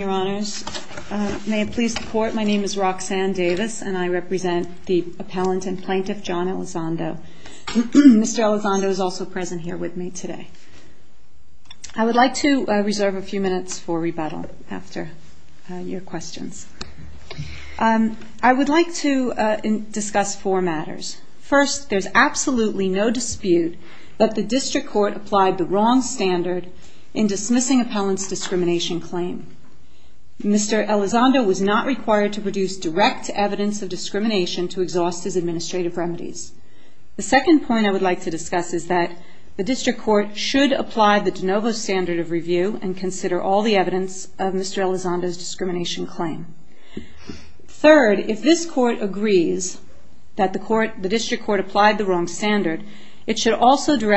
May it please the Court, my name is Roxanne Davis and I represent the Appellant and Plaintiff John Elizondo. Mr. Elizondo is also present here with me today. I would like to reserve a few minutes for rebuttal after your questions. I would like to discuss four matters. First, there's absolutely no dispute that the District Court applied the wrong standard in dismissing an Appellant's discrimination claim. Mr. Elizondo was not required to produce direct evidence of discrimination to exhaust his administrative remedies. The second point I would like to discuss is that the District Court should apply the de novo standard of review and consider all the evidence of Mr. Elizondo's discrimination claim. Third, if this Court agrees that the District Court applied the wrong standard, it should also review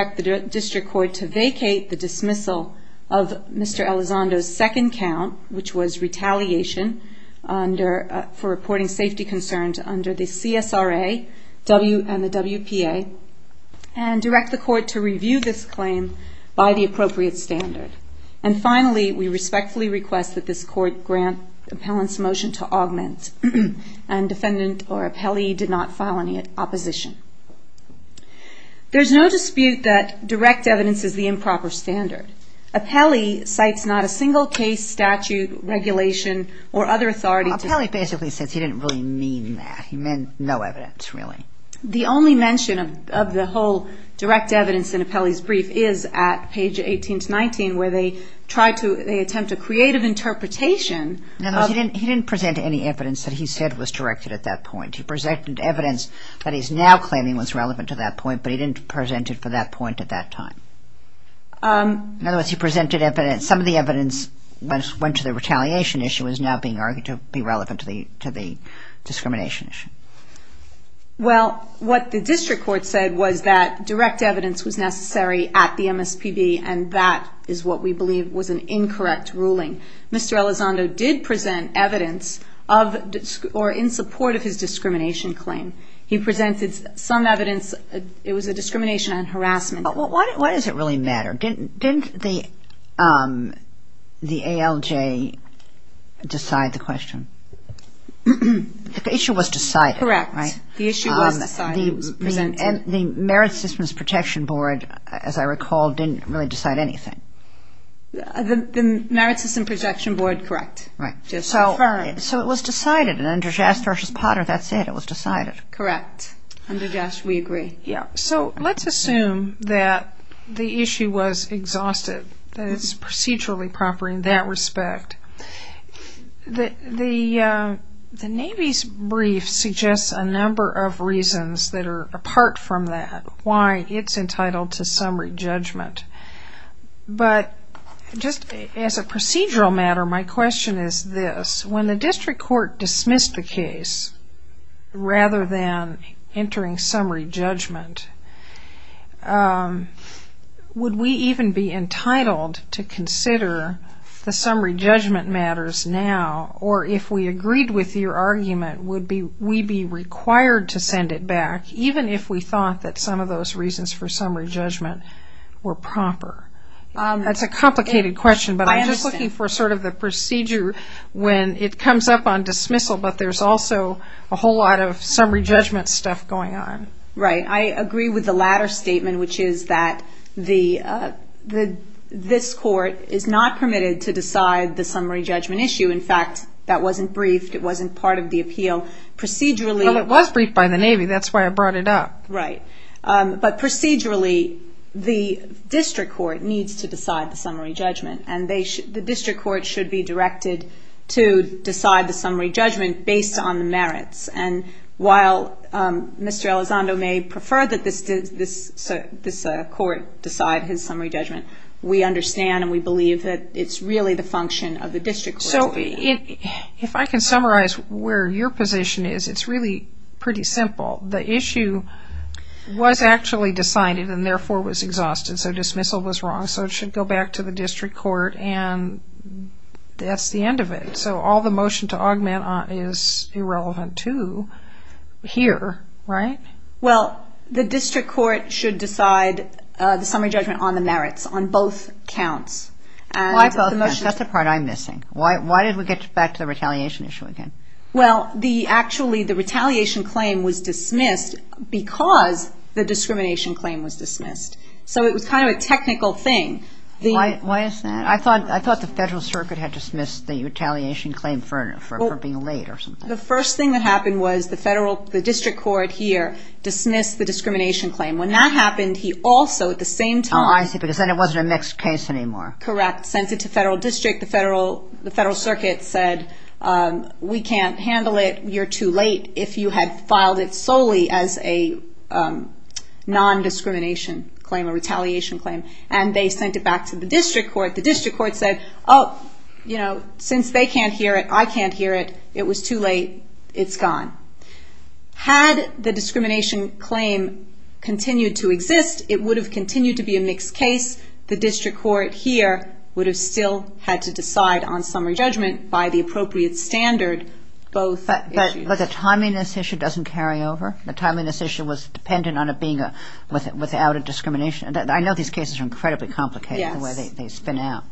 Mr. Elizondo's second count, which was retaliation for reporting safety concerns under the CSRA and the WPA, and direct the Court to review this claim by the appropriate standard. And finally, we respectfully request that this Court grant the Appellant's motion to augment and defendant or appellee did not file any opposition. There's no dispute that direct evidence is the improper standard. Appellee cites not a single case, statute, regulation, or other authority to... Appellee basically said he didn't really mean that. He meant no evidence, really. The only mention of the whole direct evidence in Appellee's brief is at page 18-19, where they try to, they attempt a creative interpretation of... No, he didn't present any evidence that he said was directed at that point. He presented evidence that he's now claiming was relevant to that point, but he didn't present it for that point at that time. In other words, he presented evidence, some of the evidence went to the retaliation issue is now being argued to be relevant to the discrimination issue. Well, what the District Court said was that direct evidence was necessary at the MSPB, and that is what we believe was an incorrect ruling. Mr. Elizondo did present evidence of, or in support of his discrimination claim. He presented some evidence, it was a discrimination and harassment... But why does it really matter? Didn't the ALJ decide the question? The issue was decided, right? Correct. The issue was decided, was presented. And the Merit Systems Protection Board, as I recall, didn't really decide anything. The Merit System Protection Board, correct. So it was decided, and under JAST v. Potter, that's it, it was decided. Correct. Under JAST, we agree. So let's assume that the issue was exhausted, that it's procedurally proper in that respect. The Navy's brief suggests a number of reasons that are apart from that, why it's entitled to summary judgment. But just as a procedural matter, my question is this. When the District Court dismissed the case, rather than entering summary judgment, would we even be entitled to consider the summary judgment matters now? Or if we agreed with your argument, would we be required to send it back, even if we thought that some of those reasons for summary judgment were proper? That's a complicated question, but I'm just looking for sort of the procedure when it comes up on dismissal, but there's also a whole lot of summary judgment stuff going on. Right. I agree with the latter statement, which is that this Court is not permitted to decide the summary judgment issue. In fact, that wasn't briefed, it wasn't part of the appeal. Procedurally... Well, it was briefed by the Navy, that's why I brought it up. Right. But procedurally, the District Court needs to decide the summary judgment, and the District Court should be directed to decide the summary judgment based on the merits. While Mr. Elizondo may prefer that this Court decide his summary judgment, we understand and we believe that it's really the function of the District Court. If I can summarize where your position is, it's really pretty simple. The issue was actually decided and therefore was exhausted, so dismissal was wrong. So it should go back to the District Court, and that's the end of it. So all the motion to augment is irrelevant to here, right? Well, the District Court should decide the summary judgment on the merits, on both counts. Why both counts? That's the part I'm missing. Why did we get back to the retaliation issue again? Well, actually, the retaliation claim was dismissed because the discrimination claim was dismissed. So it was kind of a technical thing. Why is that? I thought the Federal Circuit had dismissed the retaliation claim for being late or something. The first thing that happened was the District Court here dismissed the discrimination claim. When that happened, he also at the same time... Oh, I see, because then it wasn't a mixed case anymore. Correct. Sent it to Federal District. The Federal Circuit said, we can't handle it. You're too late if you had filed it solely as a non-discrimination claim, a retaliation claim. And they sent it back to the District Court. The District Court said, oh, you know, since they can't hear it, I can't hear it. It was too late. It's gone. Had the discrimination claim continued to exist, it would have continued to be a mixed case. The District Court here would have still had to decide on summary judgment by the appropriate standard both issues. But the timeliness issue doesn't carry over. The timeliness issue was dependent on it being without a discrimination. I know these cases are incredibly complicated the way they spin out.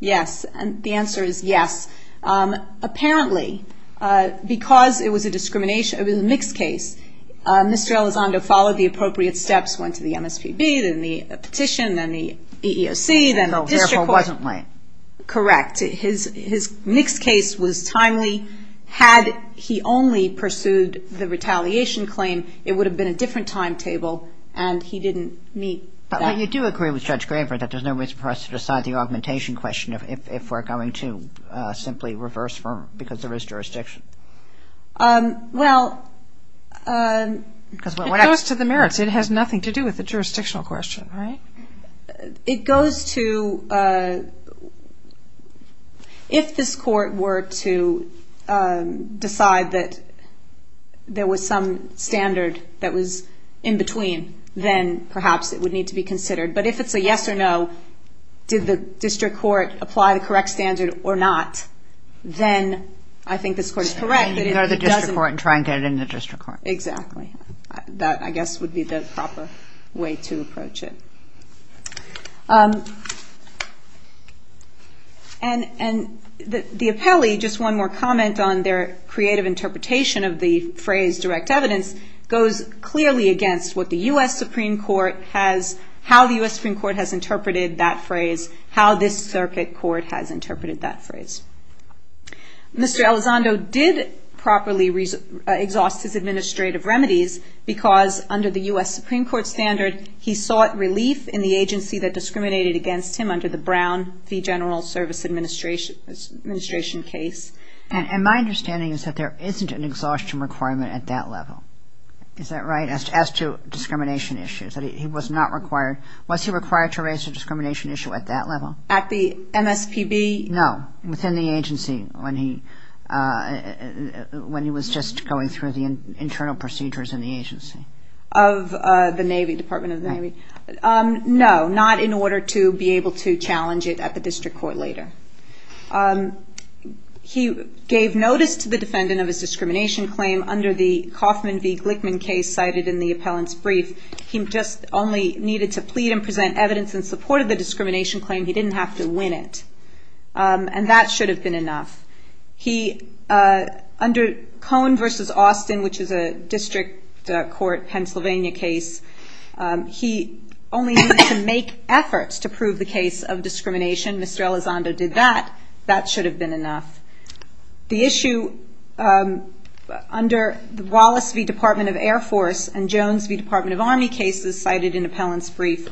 Yes. The answer is yes. Apparently, because it was a mixed case, Mr. Elizondo followed the appropriate steps, went to the MSPB, then the petition, then the EEOC, then the District Court. Therefore, it wasn't late. Correct. His mixed case was timely. Had he only pursued the retaliation claim, it would have been a different timetable, and he didn't meet that. But you do agree with Judge Graver that there's no reason for us to decide the augmentation question if we're going to simply reverse because there is jurisdiction. Well, it goes to the merits. It has nothing to do with the jurisdictional question, right? It goes to if this Court were to decide that there was some standard that was necessary that was in between, then perhaps it would need to be considered. But if it's a yes or no, did the District Court apply the correct standard or not, then I think this Court is correct that it doesn't... You go to the District Court and try and get it in the District Court. Exactly. That, I guess, would be the proper way to approach it. And the appellee, just one more comment on their creative interpretation of the phrase direct evidence, goes clearly against what the U.S. Supreme Court has, how the U.S. Supreme Court has interpreted that phrase, how this circuit court has interpreted that phrase. Mr. Elizondo did properly exhaust his administrative remedies because under the U.S. Supreme Court standard, he sought relief in the agency that discriminated against him under the Brown fee general service administration case. And my understanding is that there isn't an exhaustion requirement at that level, is that right, as to discrimination issues, that he was not required, was he required to raise a discrimination issue at that level? At the MSPB? No, within the agency when he was just going through the internal procedures in the agency. Of the Navy, Department of the Navy? No, not in order to be able to challenge it at the MSPB. He gave notice to the defendant of his discrimination claim under the Kaufman v. Glickman case cited in the appellant's brief. He just only needed to plead and present evidence in support of the discrimination claim. He didn't have to win it. And that should have been enough. He, under Cohn v. Austin, which is a district court, Pennsylvania case, he only needed to make efforts to prove the case of discrimination. Mr. Elizondo did that. That should have been enough. The issue under the Wallace v. Department of Air Force and Jones v. Department of Army cases cited in appellant's brief,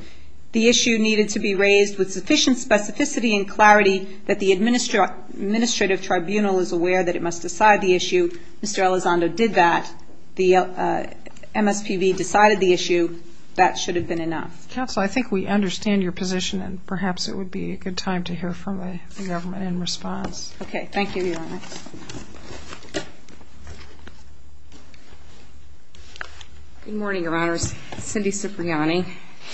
the issue needed to be raised with sufficient specificity and clarity that the administrative tribunal is aware that it must decide the issue. Mr. Elizondo did that. The MSPB decided the issue. That should have been enough. Counsel, I think we understand your position and perhaps it would be a good time to hear from the government in response. Okay. Thank you, Your Honor. Good morning, Your Honors. Cindy Cipriani,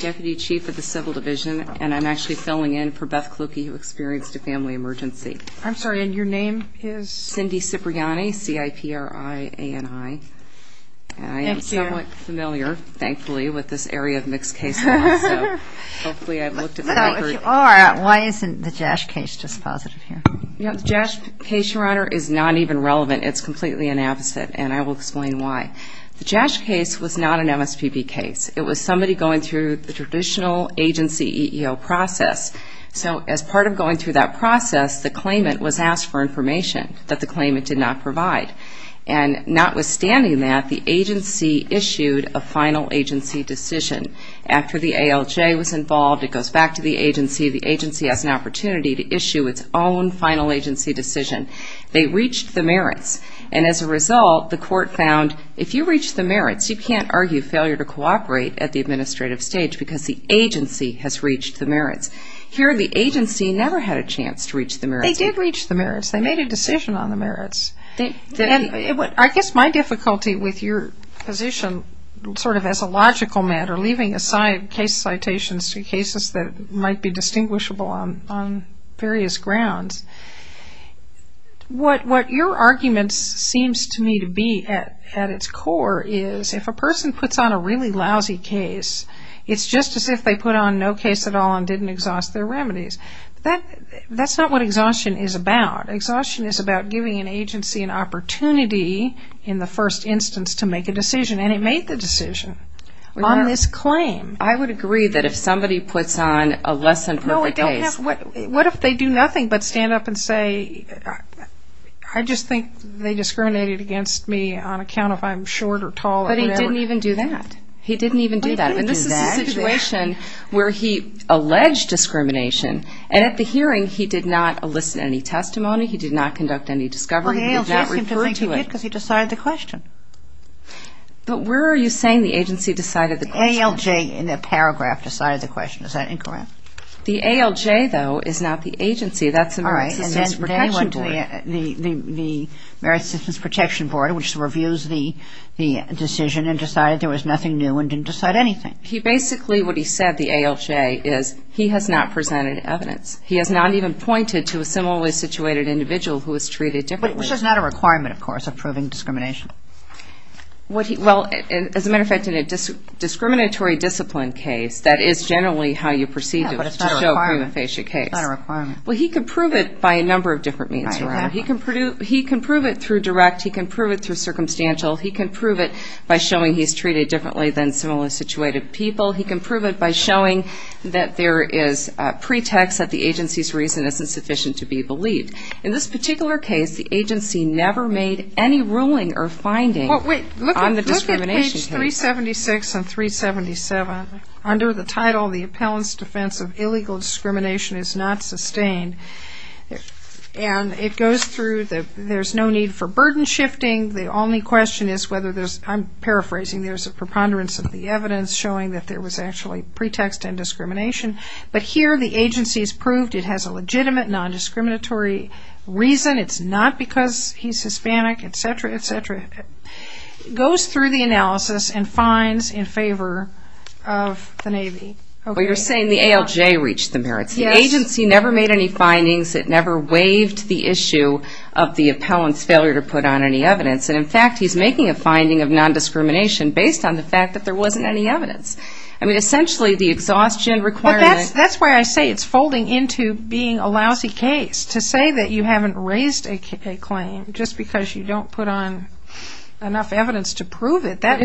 Deputy Chief of the Civil Division, and I'm actually filling in for Beth Kluke who experienced a family emergency. I'm sorry, and your name is? Cindy Cipriani, C-I-P-R-I-A-N-I. Thank you. And I am somewhat familiar, thankfully, with this area of mixed case law, so hopefully I've looked at the record. Well, if you are, why isn't the JASC case dispositive here? The JASC case, Your Honor, is not even relevant. It's completely inapposite, and I will explain why. The JASC case was not an MSPB case. It was somebody going through the traditional agency EEO process. So as part of going through that process, the claimant was asked for information that the claimant did not provide. And notwithstanding that, the agency issued a final agency decision. After the ALJ was involved, it goes back to the agency. The agency has an opportunity to issue its own final agency decision. They reached the merits, and as a result, the court found if you reach the merits, you can't argue failure to cooperate at the administrative stage because the agency has reached the merits. Here, the agency never had a chance to reach the merits. They did reach the merits. They made a decision on the merits. I guess my difficulty with your position sort of as a logical matter, leaving aside case citations to cases that might be distinguishable on various grounds, what your argument seems to me to be at its core is if a person puts on a really lousy case, it's just as if they put on no case at all and didn't exhaust their remedies. That's not what exhaustion is about. Exhaustion is about giving an agency an opportunity in the first instance to make a decision, and it made the decision on this claim. I would agree that if somebody puts on a less than perfect case... What if they do nothing but stand up and say, I just think they discriminated against me on account of I'm short or tall or whatever. But he didn't even do that. He didn't even do that. He didn't do that. But this is a situation where he alleged discrimination, and at the hearing, he did not elicit any testimony. He did not conduct any discovery. He did not refer to it. Well, the ALJ asked him to think he did because he decided the question. But where are you saying the agency decided the question? The ALJ in the paragraph decided the question. Is that incorrect? The ALJ, though, is not the agency. That's the Merit Assistance Protection Board. All right. And they went to the Merit Assistance Protection Board, which reviews the decision and decided there was nothing new and didn't decide anything. Basically, what he said, the ALJ, is he has not presented evidence. He has not even pointed to a similarly situated individual who was treated differently. Which is not a requirement, of course, of proving discrimination. Well, as a matter of fact, in a discriminatory discipline case, that is generally how you proceed to show a prima facie case. Yeah, but it's not a requirement. It's not a requirement. Well, he can prove it by a number of different means, right? I agree. He can prove it through direct. He can prove it through circumstantial. He can prove it by showing he's treated differently than similarly situated people. He can prove it by showing that there is a pretext that the agency's reason isn't sufficient to be believed. In this particular case, the agency never made any ruling or finding on the discrimination case. Well, wait. Look at page 376 and 377. Under the title, the appellant's defense of illegal discrimination is not sustained. And it goes through the, there's no need for burden shifting. The only question is whether there's, I'm paraphrasing, there's a preponderance of the evidence showing that there was actually pretext and discrimination. But here the agency's proved it has a legitimate nondiscriminatory reason. It's not because he's Hispanic, et cetera, et cetera. It goes through the analysis and finds in favor of the Navy. Well, you're saying the ALJ reached the merits. The agency never made any findings. It never waived the issue of the appellant's failure to put on any evidence. And, in fact, he's making a finding of nondiscrimination based on the fact that there wasn't any evidence. I mean, essentially the exhaustion requirement. Well, that's why I say it's folding into being a lousy case. To say that you haven't raised a claim just because you don't put on enough evidence to prove it, that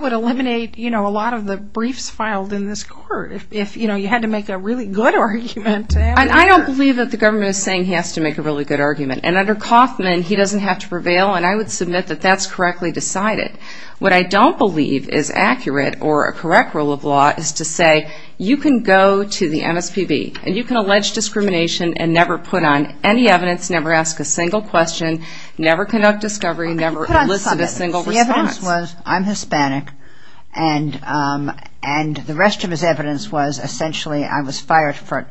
would eliminate, you know, a lot of the briefs filed in this court. If, you know, you had to make a really good argument. I don't believe that the government is saying he has to make a really good argument. And under Kauffman, he doesn't have to prevail, and I would submit that that's correctly decided. What I don't believe is accurate or a correct rule of law is to say you can go to the MSPB and you can allege discrimination and never put on any evidence, never ask a single question, never conduct discovery, never elicit a single response. The evidence was I'm Hispanic, and the rest of his evidence was essentially I was fired for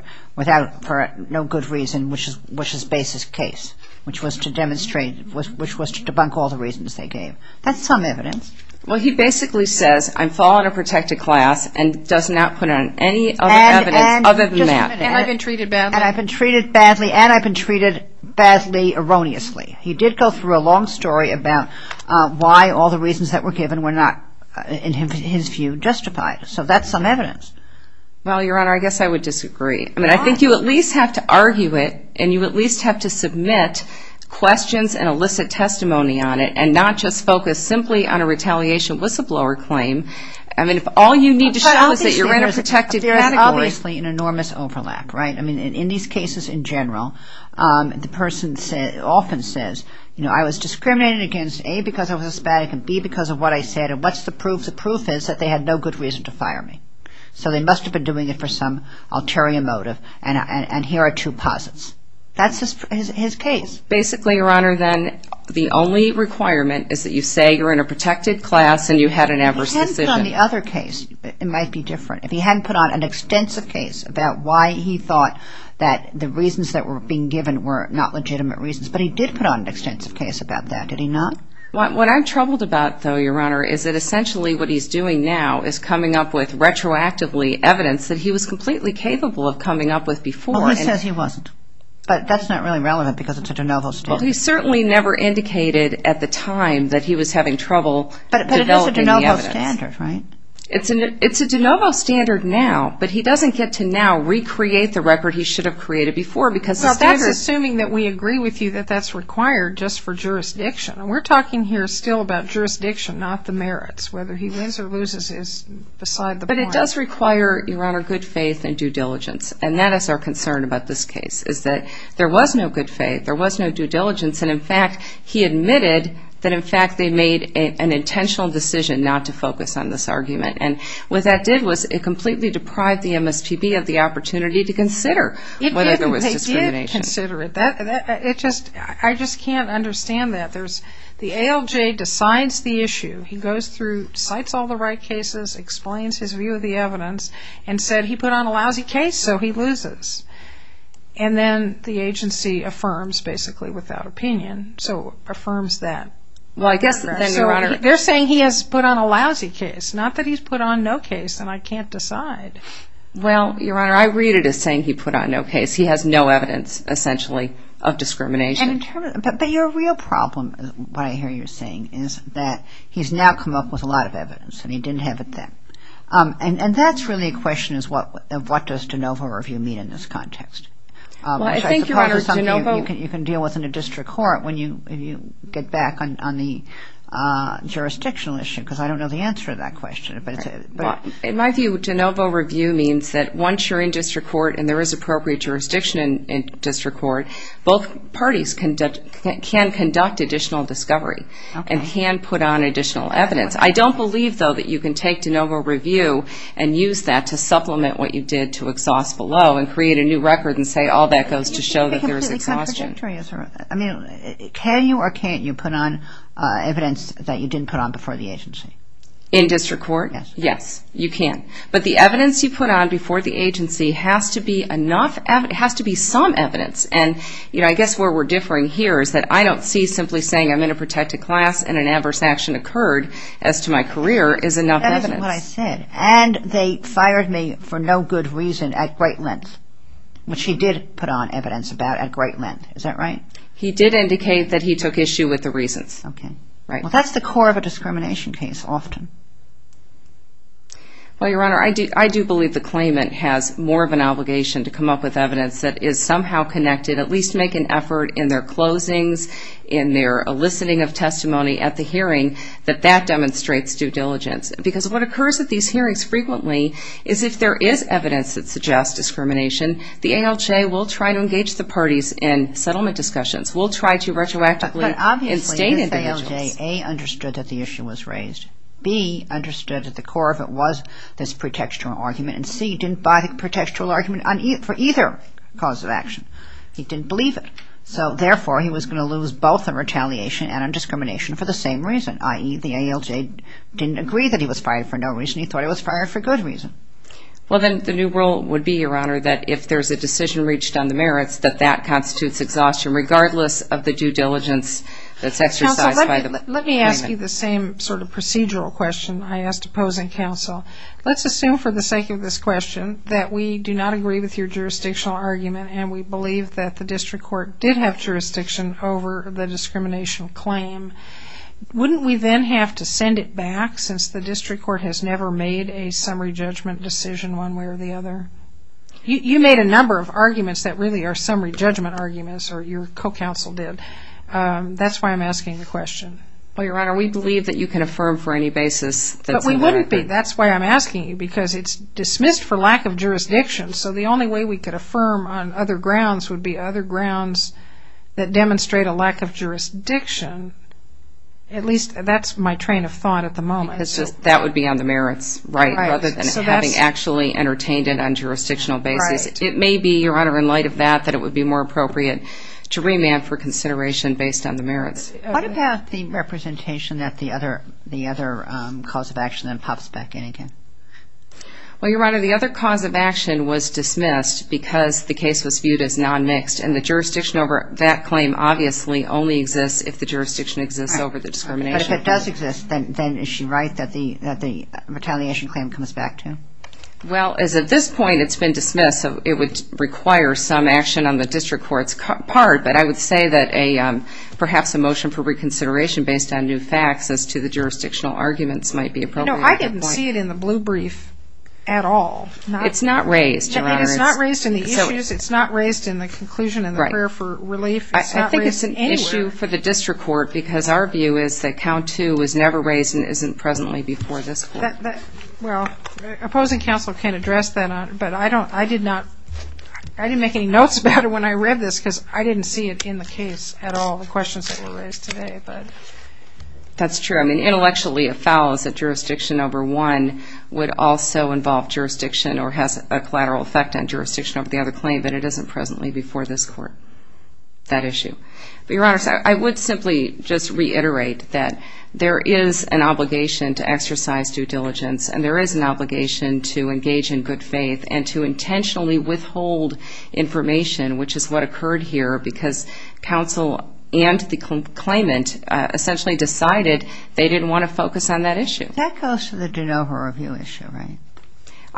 no good reason, which is base's case, which was to demonstrate, which was to debunk all the reasons they gave. That's some evidence. Well, he basically says I'm following a protected class and does not put on any other evidence other than that. And I've been treated badly. And I've been treated badly and I've been treated badly erroneously. He did go through a long story about why all the reasons that were given were not, in his view, justified. So that's some evidence. Well, Your Honor, I guess I would disagree. I mean, I think you at least have to argue it and you at least have to submit questions and elicit testimony on it and not just focus simply on a retaliation whistleblower claim. I mean, if all you need to show is that you're in a protected category. There's obviously an enormous overlap, right? I mean, in these cases in general, the person often says, you know, I was discriminated against, A, because I was Hispanic and, B, because of what I said. And what's the proof? The proof is that they had no good reason to fire me. So they must have been doing it for some ulterior motive. And here are two posits. That's his case. Basically, Your Honor, then, the only requirement is that you say you're in a protected class and you had an adverse decision. If he hadn't put on the other case, it might be different. If he hadn't put on an extensive case about why he thought that the reasons that were being given were not legitimate reasons. But he did put on an extensive case about that, did he not? What I'm troubled about, though, Your Honor, is that essentially what he's doing now is coming up with, retroactively, evidence that he was completely capable of coming up with before. Well, he says he wasn't. But that's not really relevant because it's a de novo standard. Well, he certainly never indicated at the time that he was having trouble developing the evidence. But it is a de novo standard, right? It's a de novo standard now, but he doesn't get to now recreate the record he should have created before because the standard Well, that's assuming that we agree with you that that's required just for jurisdiction. And we're talking here still about jurisdiction, not the merits. Whether he wins or loses is beside the point. But it does require, Your Honor, good faith and due diligence. And that is our concern about this case is that there was no good faith. There was no due diligence. And, in fact, he admitted that, in fact, they made an intentional decision not to focus on this argument. And what that did was it completely deprived the MSPB of the opportunity to consider whether there was discrimination. It didn't. They did consider it. I just can't understand that. The ALJ decides the issue. He goes through, cites all the right cases, explains his view of the evidence, and said, He put on a lousy case, so he loses. And then the agency affirms, basically without opinion, so affirms that. Well, I guess then, Your Honor. They're saying he has put on a lousy case, not that he's put on no case and I can't decide. Well, Your Honor, I read it as saying he put on no case. He has no evidence, essentially, of discrimination. But your real problem, what I hear you saying, is that he's now come up with a lot of evidence, and he didn't have it then. And that's really a question of what does de novo review mean in this context. Well, I think, Your Honor, de novo. You can deal with it in a district court when you get back on the jurisdictional issue, because I don't know the answer to that question. In my view, de novo review means that once you're in district court and there is appropriate jurisdiction in district court, both parties can conduct additional discovery and can put on additional evidence. I don't believe, though, that you can take de novo review and use that to supplement what you did to exhaust below and create a new record and say all that goes to show that there is exhaustion. Can you or can't you put on evidence that you didn't put on before the agency? In district court? Yes. You can. But the evidence you put on before the agency has to be some evidence. And, you know, I guess where we're differing here is that I don't see simply saying I'm going to protect a class and an adverse action occurred as to my career is enough evidence. That isn't what I said. And they fired me for no good reason at great length, which he did put on evidence about at great length. Is that right? He did indicate that he took issue with the reasons. Okay. Right. Well, that's the core of a discrimination case often. Well, Your Honor, I do believe the claimant has more of an obligation to come up with evidence that is somehow connected, at least make an effort in their closings, in their eliciting of testimony at the hearing, that that demonstrates due diligence. Because what occurs at these hearings frequently is if there is evidence that suggests discrimination, the ALJ will try to engage the parties in settlement discussions, will try to retroactively instate individuals. And A, understood that the issue was raised. B, understood that the core of it was this pretextual argument. And C, didn't buy the pretextual argument for either cause of action. He didn't believe it. So, therefore, he was going to lose both on retaliation and on discrimination for the same reason, i.e., the ALJ didn't agree that he was fired for no reason. He thought he was fired for good reason. Well, then, the new rule would be, Your Honor, that if there's a decision reached on the merits, that that constitutes exhaustion, regardless of the due diligence that's exercised by the payment. Let me ask you the same sort of procedural question I asked opposing counsel. Let's assume for the sake of this question that we do not agree with your jurisdictional argument and we believe that the district court did have jurisdiction over the discrimination claim. Wouldn't we then have to send it back, since the district court has never made a summary judgment decision one way or the other? You made a number of arguments that really are summary judgment arguments, or your co-counsel did. That's why I'm asking the question. Well, Your Honor, we believe that you can affirm for any basis that we might agree. But we wouldn't be. That's why I'm asking you, because it's dismissed for lack of jurisdiction. So the only way we could affirm on other grounds would be other grounds that demonstrate a lack of jurisdiction. At least, that's my train of thought at the moment. That would be on the merits rather than having actually entertained it on jurisdictional basis. It may be, Your Honor, in light of that, that it would be more appropriate to remand for consideration based on the merits. What about the representation that the other cause of action then pops back in again? Well, Your Honor, the other cause of action was dismissed because the case was viewed as non-mixed, and that claim obviously only exists if the jurisdiction exists over the discrimination. But if it does exist, then is she right that the retaliation claim comes back to? Well, as at this point it's been dismissed, it would require some action on the district court's part. But I would say that perhaps a motion for reconsideration based on new facts as to the jurisdictional arguments might be appropriate. No, I didn't see it in the blue brief at all. It's not raised, Your Honor. It is not raised in the issues. It's not raised in the conclusion in the prayer for relief. It's not raised anywhere. It's an issue for the district court because our view is that count two was never raised and isn't presently before this court. Well, opposing counsel can address that, but I didn't make any notes about it when I read this because I didn't see it in the case at all, the questions that were raised today. That's true. I mean, intellectually it follows that jurisdiction over one would also involve jurisdiction or has a collateral effect on jurisdiction over the other claim, but it isn't presently before this court, that issue. Your Honor, I would simply just reiterate that there is an obligation to exercise due diligence and there is an obligation to engage in good faith and to intentionally withhold information, which is what occurred here because counsel and the claimant essentially decided they didn't want to focus on that issue. That goes to the de novo review issue, right?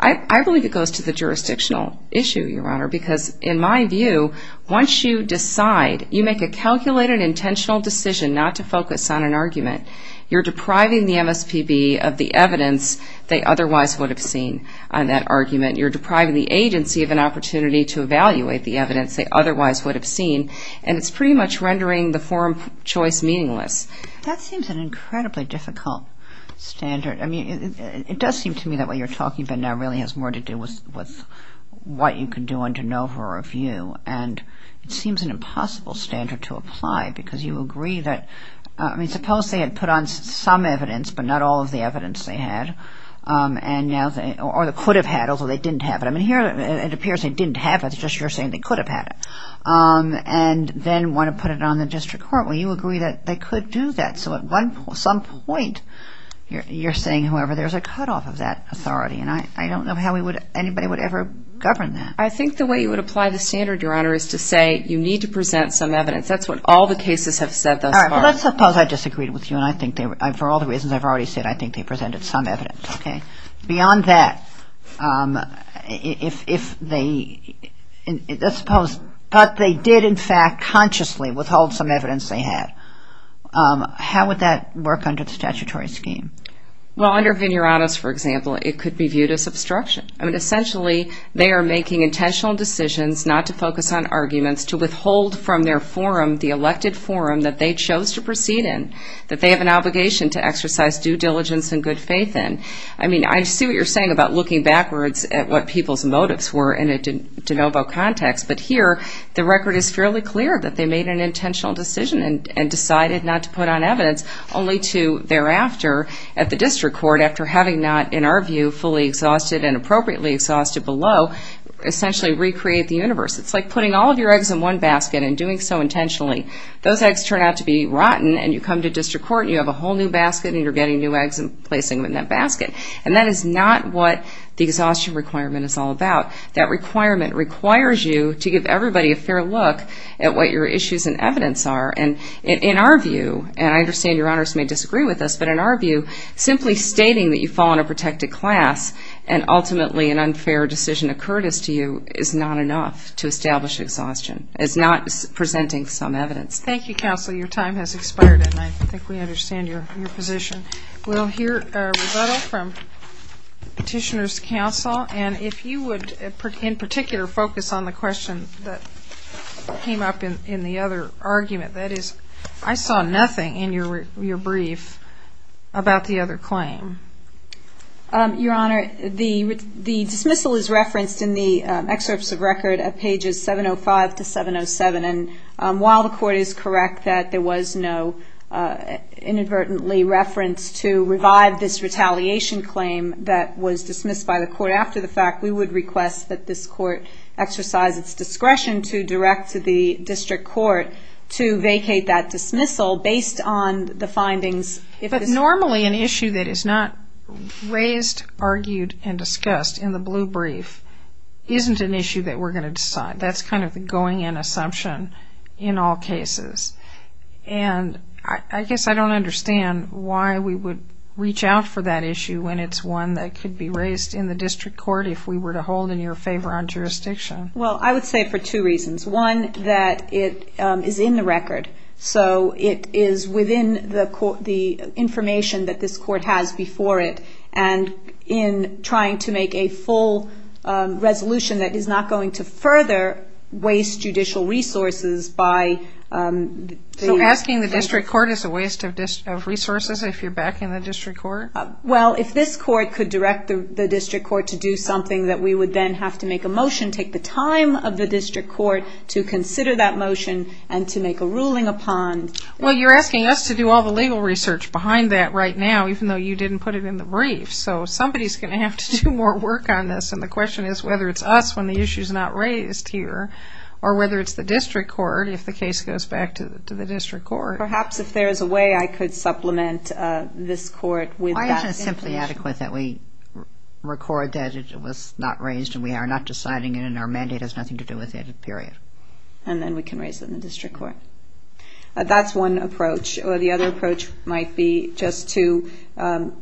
I believe it goes to the jurisdictional issue, Your Honor, because in my view, once you decide, you make a calculated, intentional decision not to focus on an argument, you're depriving the MSPB of the evidence they otherwise would have seen on that argument. You're depriving the agency of an opportunity to evaluate the evidence they otherwise would have seen, and it's pretty much rendering the forum choice meaningless. That seems an incredibly difficult standard. I mean, it does seem to me that what you're talking about now really has more to do with what you can do on de novo review, and it seems an impossible standard to apply because you agree that, I mean, suppose they had put on some evidence, but not all of the evidence they had, or they could have had, although they didn't have it. I mean, here it appears they didn't have it. It's just you're saying they could have had it, and then want to put it on the district court. Well, you agree that they could do that. So at some point, you're saying, however, there's a cutoff of that authority, and I don't know how anybody would ever govern that. I think the way you would apply the standard, Your Honor, is to say you need to present some evidence. That's what all the cases have said thus far. All right, well, let's suppose I disagreed with you, and for all the reasons I've already said, I think they presented some evidence, okay? Beyond that, let's suppose, but they did, in fact, consciously withhold some evidence they had. How would that work under the statutory scheme? Well, under Vineranus, for example, it could be viewed as obstruction. I mean, essentially, they are making intentional decisions not to focus on arguments, to withhold from their forum the elected forum that they chose to proceed in, that they have an obligation to exercise due diligence and good faith in. I mean, I see what you're saying about looking backwards at what people's motives were in a de novo context. But here, the record is fairly clear that they made an intentional decision and decided not to put on evidence, only to thereafter, at the district court, after having not, in our view, fully exhausted and appropriately exhausted below, essentially recreate the universe. It's like putting all of your eggs in one basket and doing so intentionally. Those eggs turn out to be rotten, and you come to district court, and you have a whole new basket, and you're getting new eggs and placing them in that basket. And that is not what the exhaustion requirement is all about. That requirement requires you to give everybody a fair look at what your issues and evidence are. And in our view, and I understand your honors may disagree with us, but in our view, simply stating that you fall in a protected class and ultimately an unfair decision occurred as to you is not enough to establish exhaustion. It's not presenting some evidence. Thank you, Counsel. Your time has expired, and I think we understand your position. We'll hear rebuttal from Petitioner's Counsel. And if you would, in particular, focus on the question that came up in the other argument, that is, I saw nothing in your brief about the other claim. Your Honor, the dismissal is referenced in the excerpts of record at pages 705 to 707. While the court is correct that there was no inadvertently reference to revive this retaliation claim that was dismissed by the court after the fact, we would request that this court exercise its discretion to direct to the district court to vacate that dismissal based on the findings. But normally an issue that is not raised, argued, and discussed in the blue brief isn't an issue that we're going to decide. That's kind of the going-in assumption in all cases. And I guess I don't understand why we would reach out for that issue when it's one that could be raised in the district court if we were to hold in your favor on jurisdiction. Well, I would say for two reasons. One, that it is in the record, so it is within the information that this court has before it. And in trying to make a full resolution that is not going to further waste judicial resources by... So asking the district court is a waste of resources if you're backing the district court? Well, if this court could direct the district court to do something, that we would then have to make a motion, take the time of the district court to consider that motion and to make a ruling upon... Well, you're asking us to do all the legal research behind that right now even though you didn't put it in the brief. So somebody's going to have to do more work on this, and the question is whether it's us when the issue's not raised here or whether it's the district court if the case goes back to the district court. Perhaps if there is a way I could supplement this court with that information. Why isn't it simply adequate that we record that it was not raised and we are not deciding it and our mandate has nothing to do with it, period? And then we can raise it in the district court. That's one approach. Or the other approach might be just to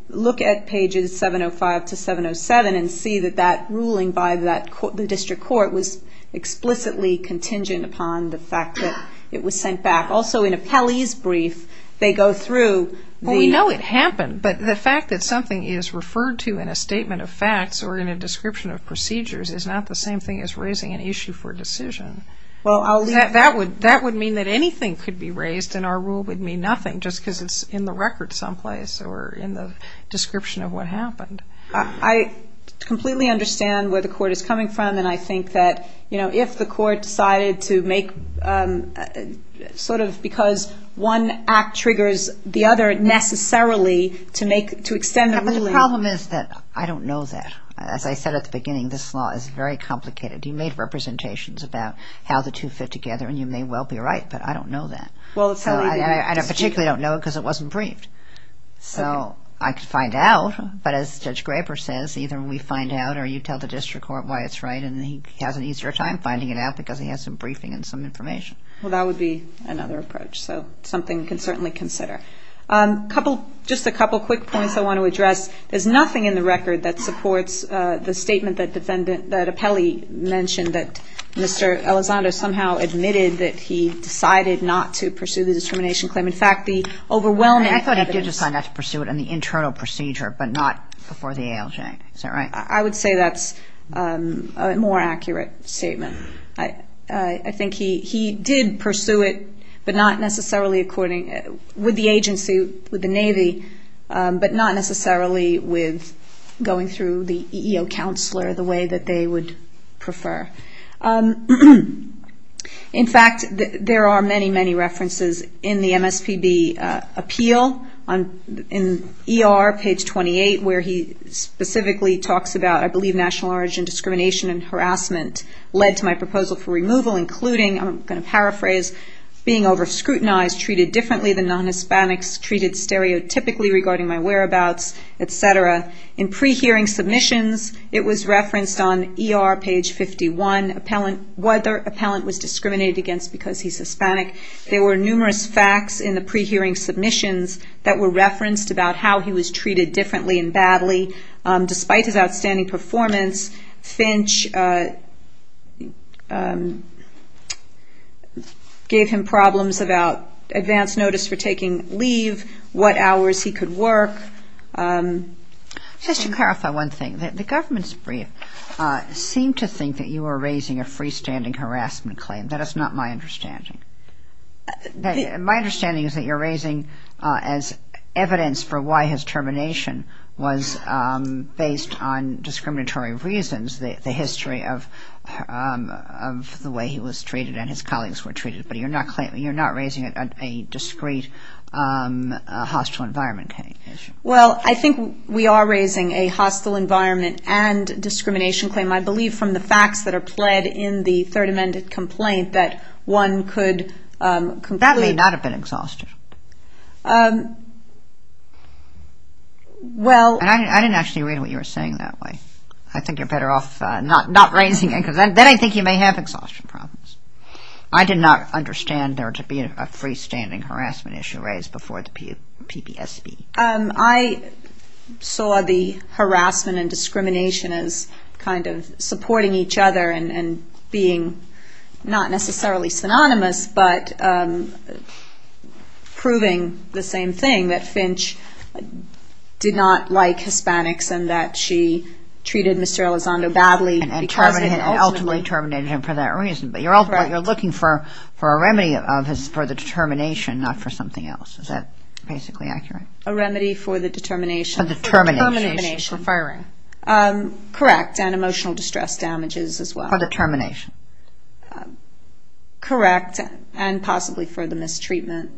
look at pages 705 to 707 and see that that ruling by the district court was explicitly contingent upon the fact that it was sent back. Also, in Appellee's brief, they go through the... Well, we know it happened, but the fact that something is referred to in a statement of facts or in a description of procedures is not the same thing as raising an issue for decision. That would mean that anything could be raised and our rule would mean nothing just because it's in the record someplace or in the description of what happened. I completely understand where the court is coming from, and I think that if the court decided to make... sort of because one act triggers the other necessarily to extend the ruling... The problem is that I don't know that. As I said at the beginning, this law is very complicated. You made representations about how the two fit together, and you may well be right, but I don't know that. I particularly don't know it because it wasn't briefed. So I could find out, but as Judge Graber says, either we find out or you tell the district court why it's right, and he has an easier time finding it out because he has some briefing and some information. Well, that would be another approach, so something we can certainly consider. Just a couple quick points I want to address. There's nothing in the record that supports the statement that Appellee mentioned that Mr. Elizondo somehow admitted that he decided not to pursue the discrimination claim. In fact, the overwhelming evidence... I thought he did decide not to pursue it in the internal procedure but not before the ALJ. Is that right? I would say that's a more accurate statement. I think he did pursue it but not necessarily according... with the agency, with the Navy, but not necessarily with going through the EEO counselor the way that they would prefer. In fact, there are many, many references in the MSPB appeal, in ER, page 28, where he specifically talks about, I believe, national origin discrimination and harassment led to my proposal for removal, including, I'm going to paraphrase, being over-scrutinized, treated differently than non-Hispanics, treated stereotypically regarding my whereabouts, et cetera. In pre-hearing submissions, it was referenced on ER, page 51, whether appellant was discriminated against because he's Hispanic. There were numerous facts in the pre-hearing submissions that were referenced about how he was treated differently and badly. Despite his outstanding performance, Finch gave him problems about advance notice for taking leave, what hours he could work. Just to clarify one thing. The government's brief seemed to think that you were raising a freestanding harassment claim. That is not my understanding. My understanding is that you're raising as evidence for why his termination was based on discriminatory reasons, the history of the way he was treated and his colleagues were treated, but you're not raising a discreet hostile environment. Well, I think we are raising a hostile environment and discrimination claim, I believe, from the facts that are pled in the Third Amendment complaint that one could completely... That may not have been exhausted. I didn't actually read what you were saying that way. I think you're better off not raising it because then I think you may have exhaustion problems. I did not understand there to be a freestanding harassment issue that you raised before the PPSB. I saw the harassment and discrimination as kind of supporting each other and being not necessarily synonymous but proving the same thing, that Finch did not like Hispanics and that she treated Mr. Elizondo badly. And ultimately terminated him for that reason. But you're looking for a remedy for the determination, not for something else. Is that basically accurate? A remedy for the determination. For determination. For determination. For firing. Correct, and emotional distress damages as well. For determination. Correct, and possibly for the mistreatment.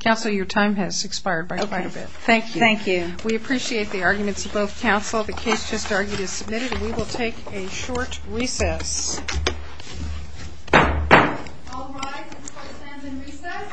Counsel, your time has expired by quite a bit. Okay, thank you. Thank you. We appreciate the arguments of both counsel. The case just argued is submitted and we will take a short recess. All rise and stand in recess.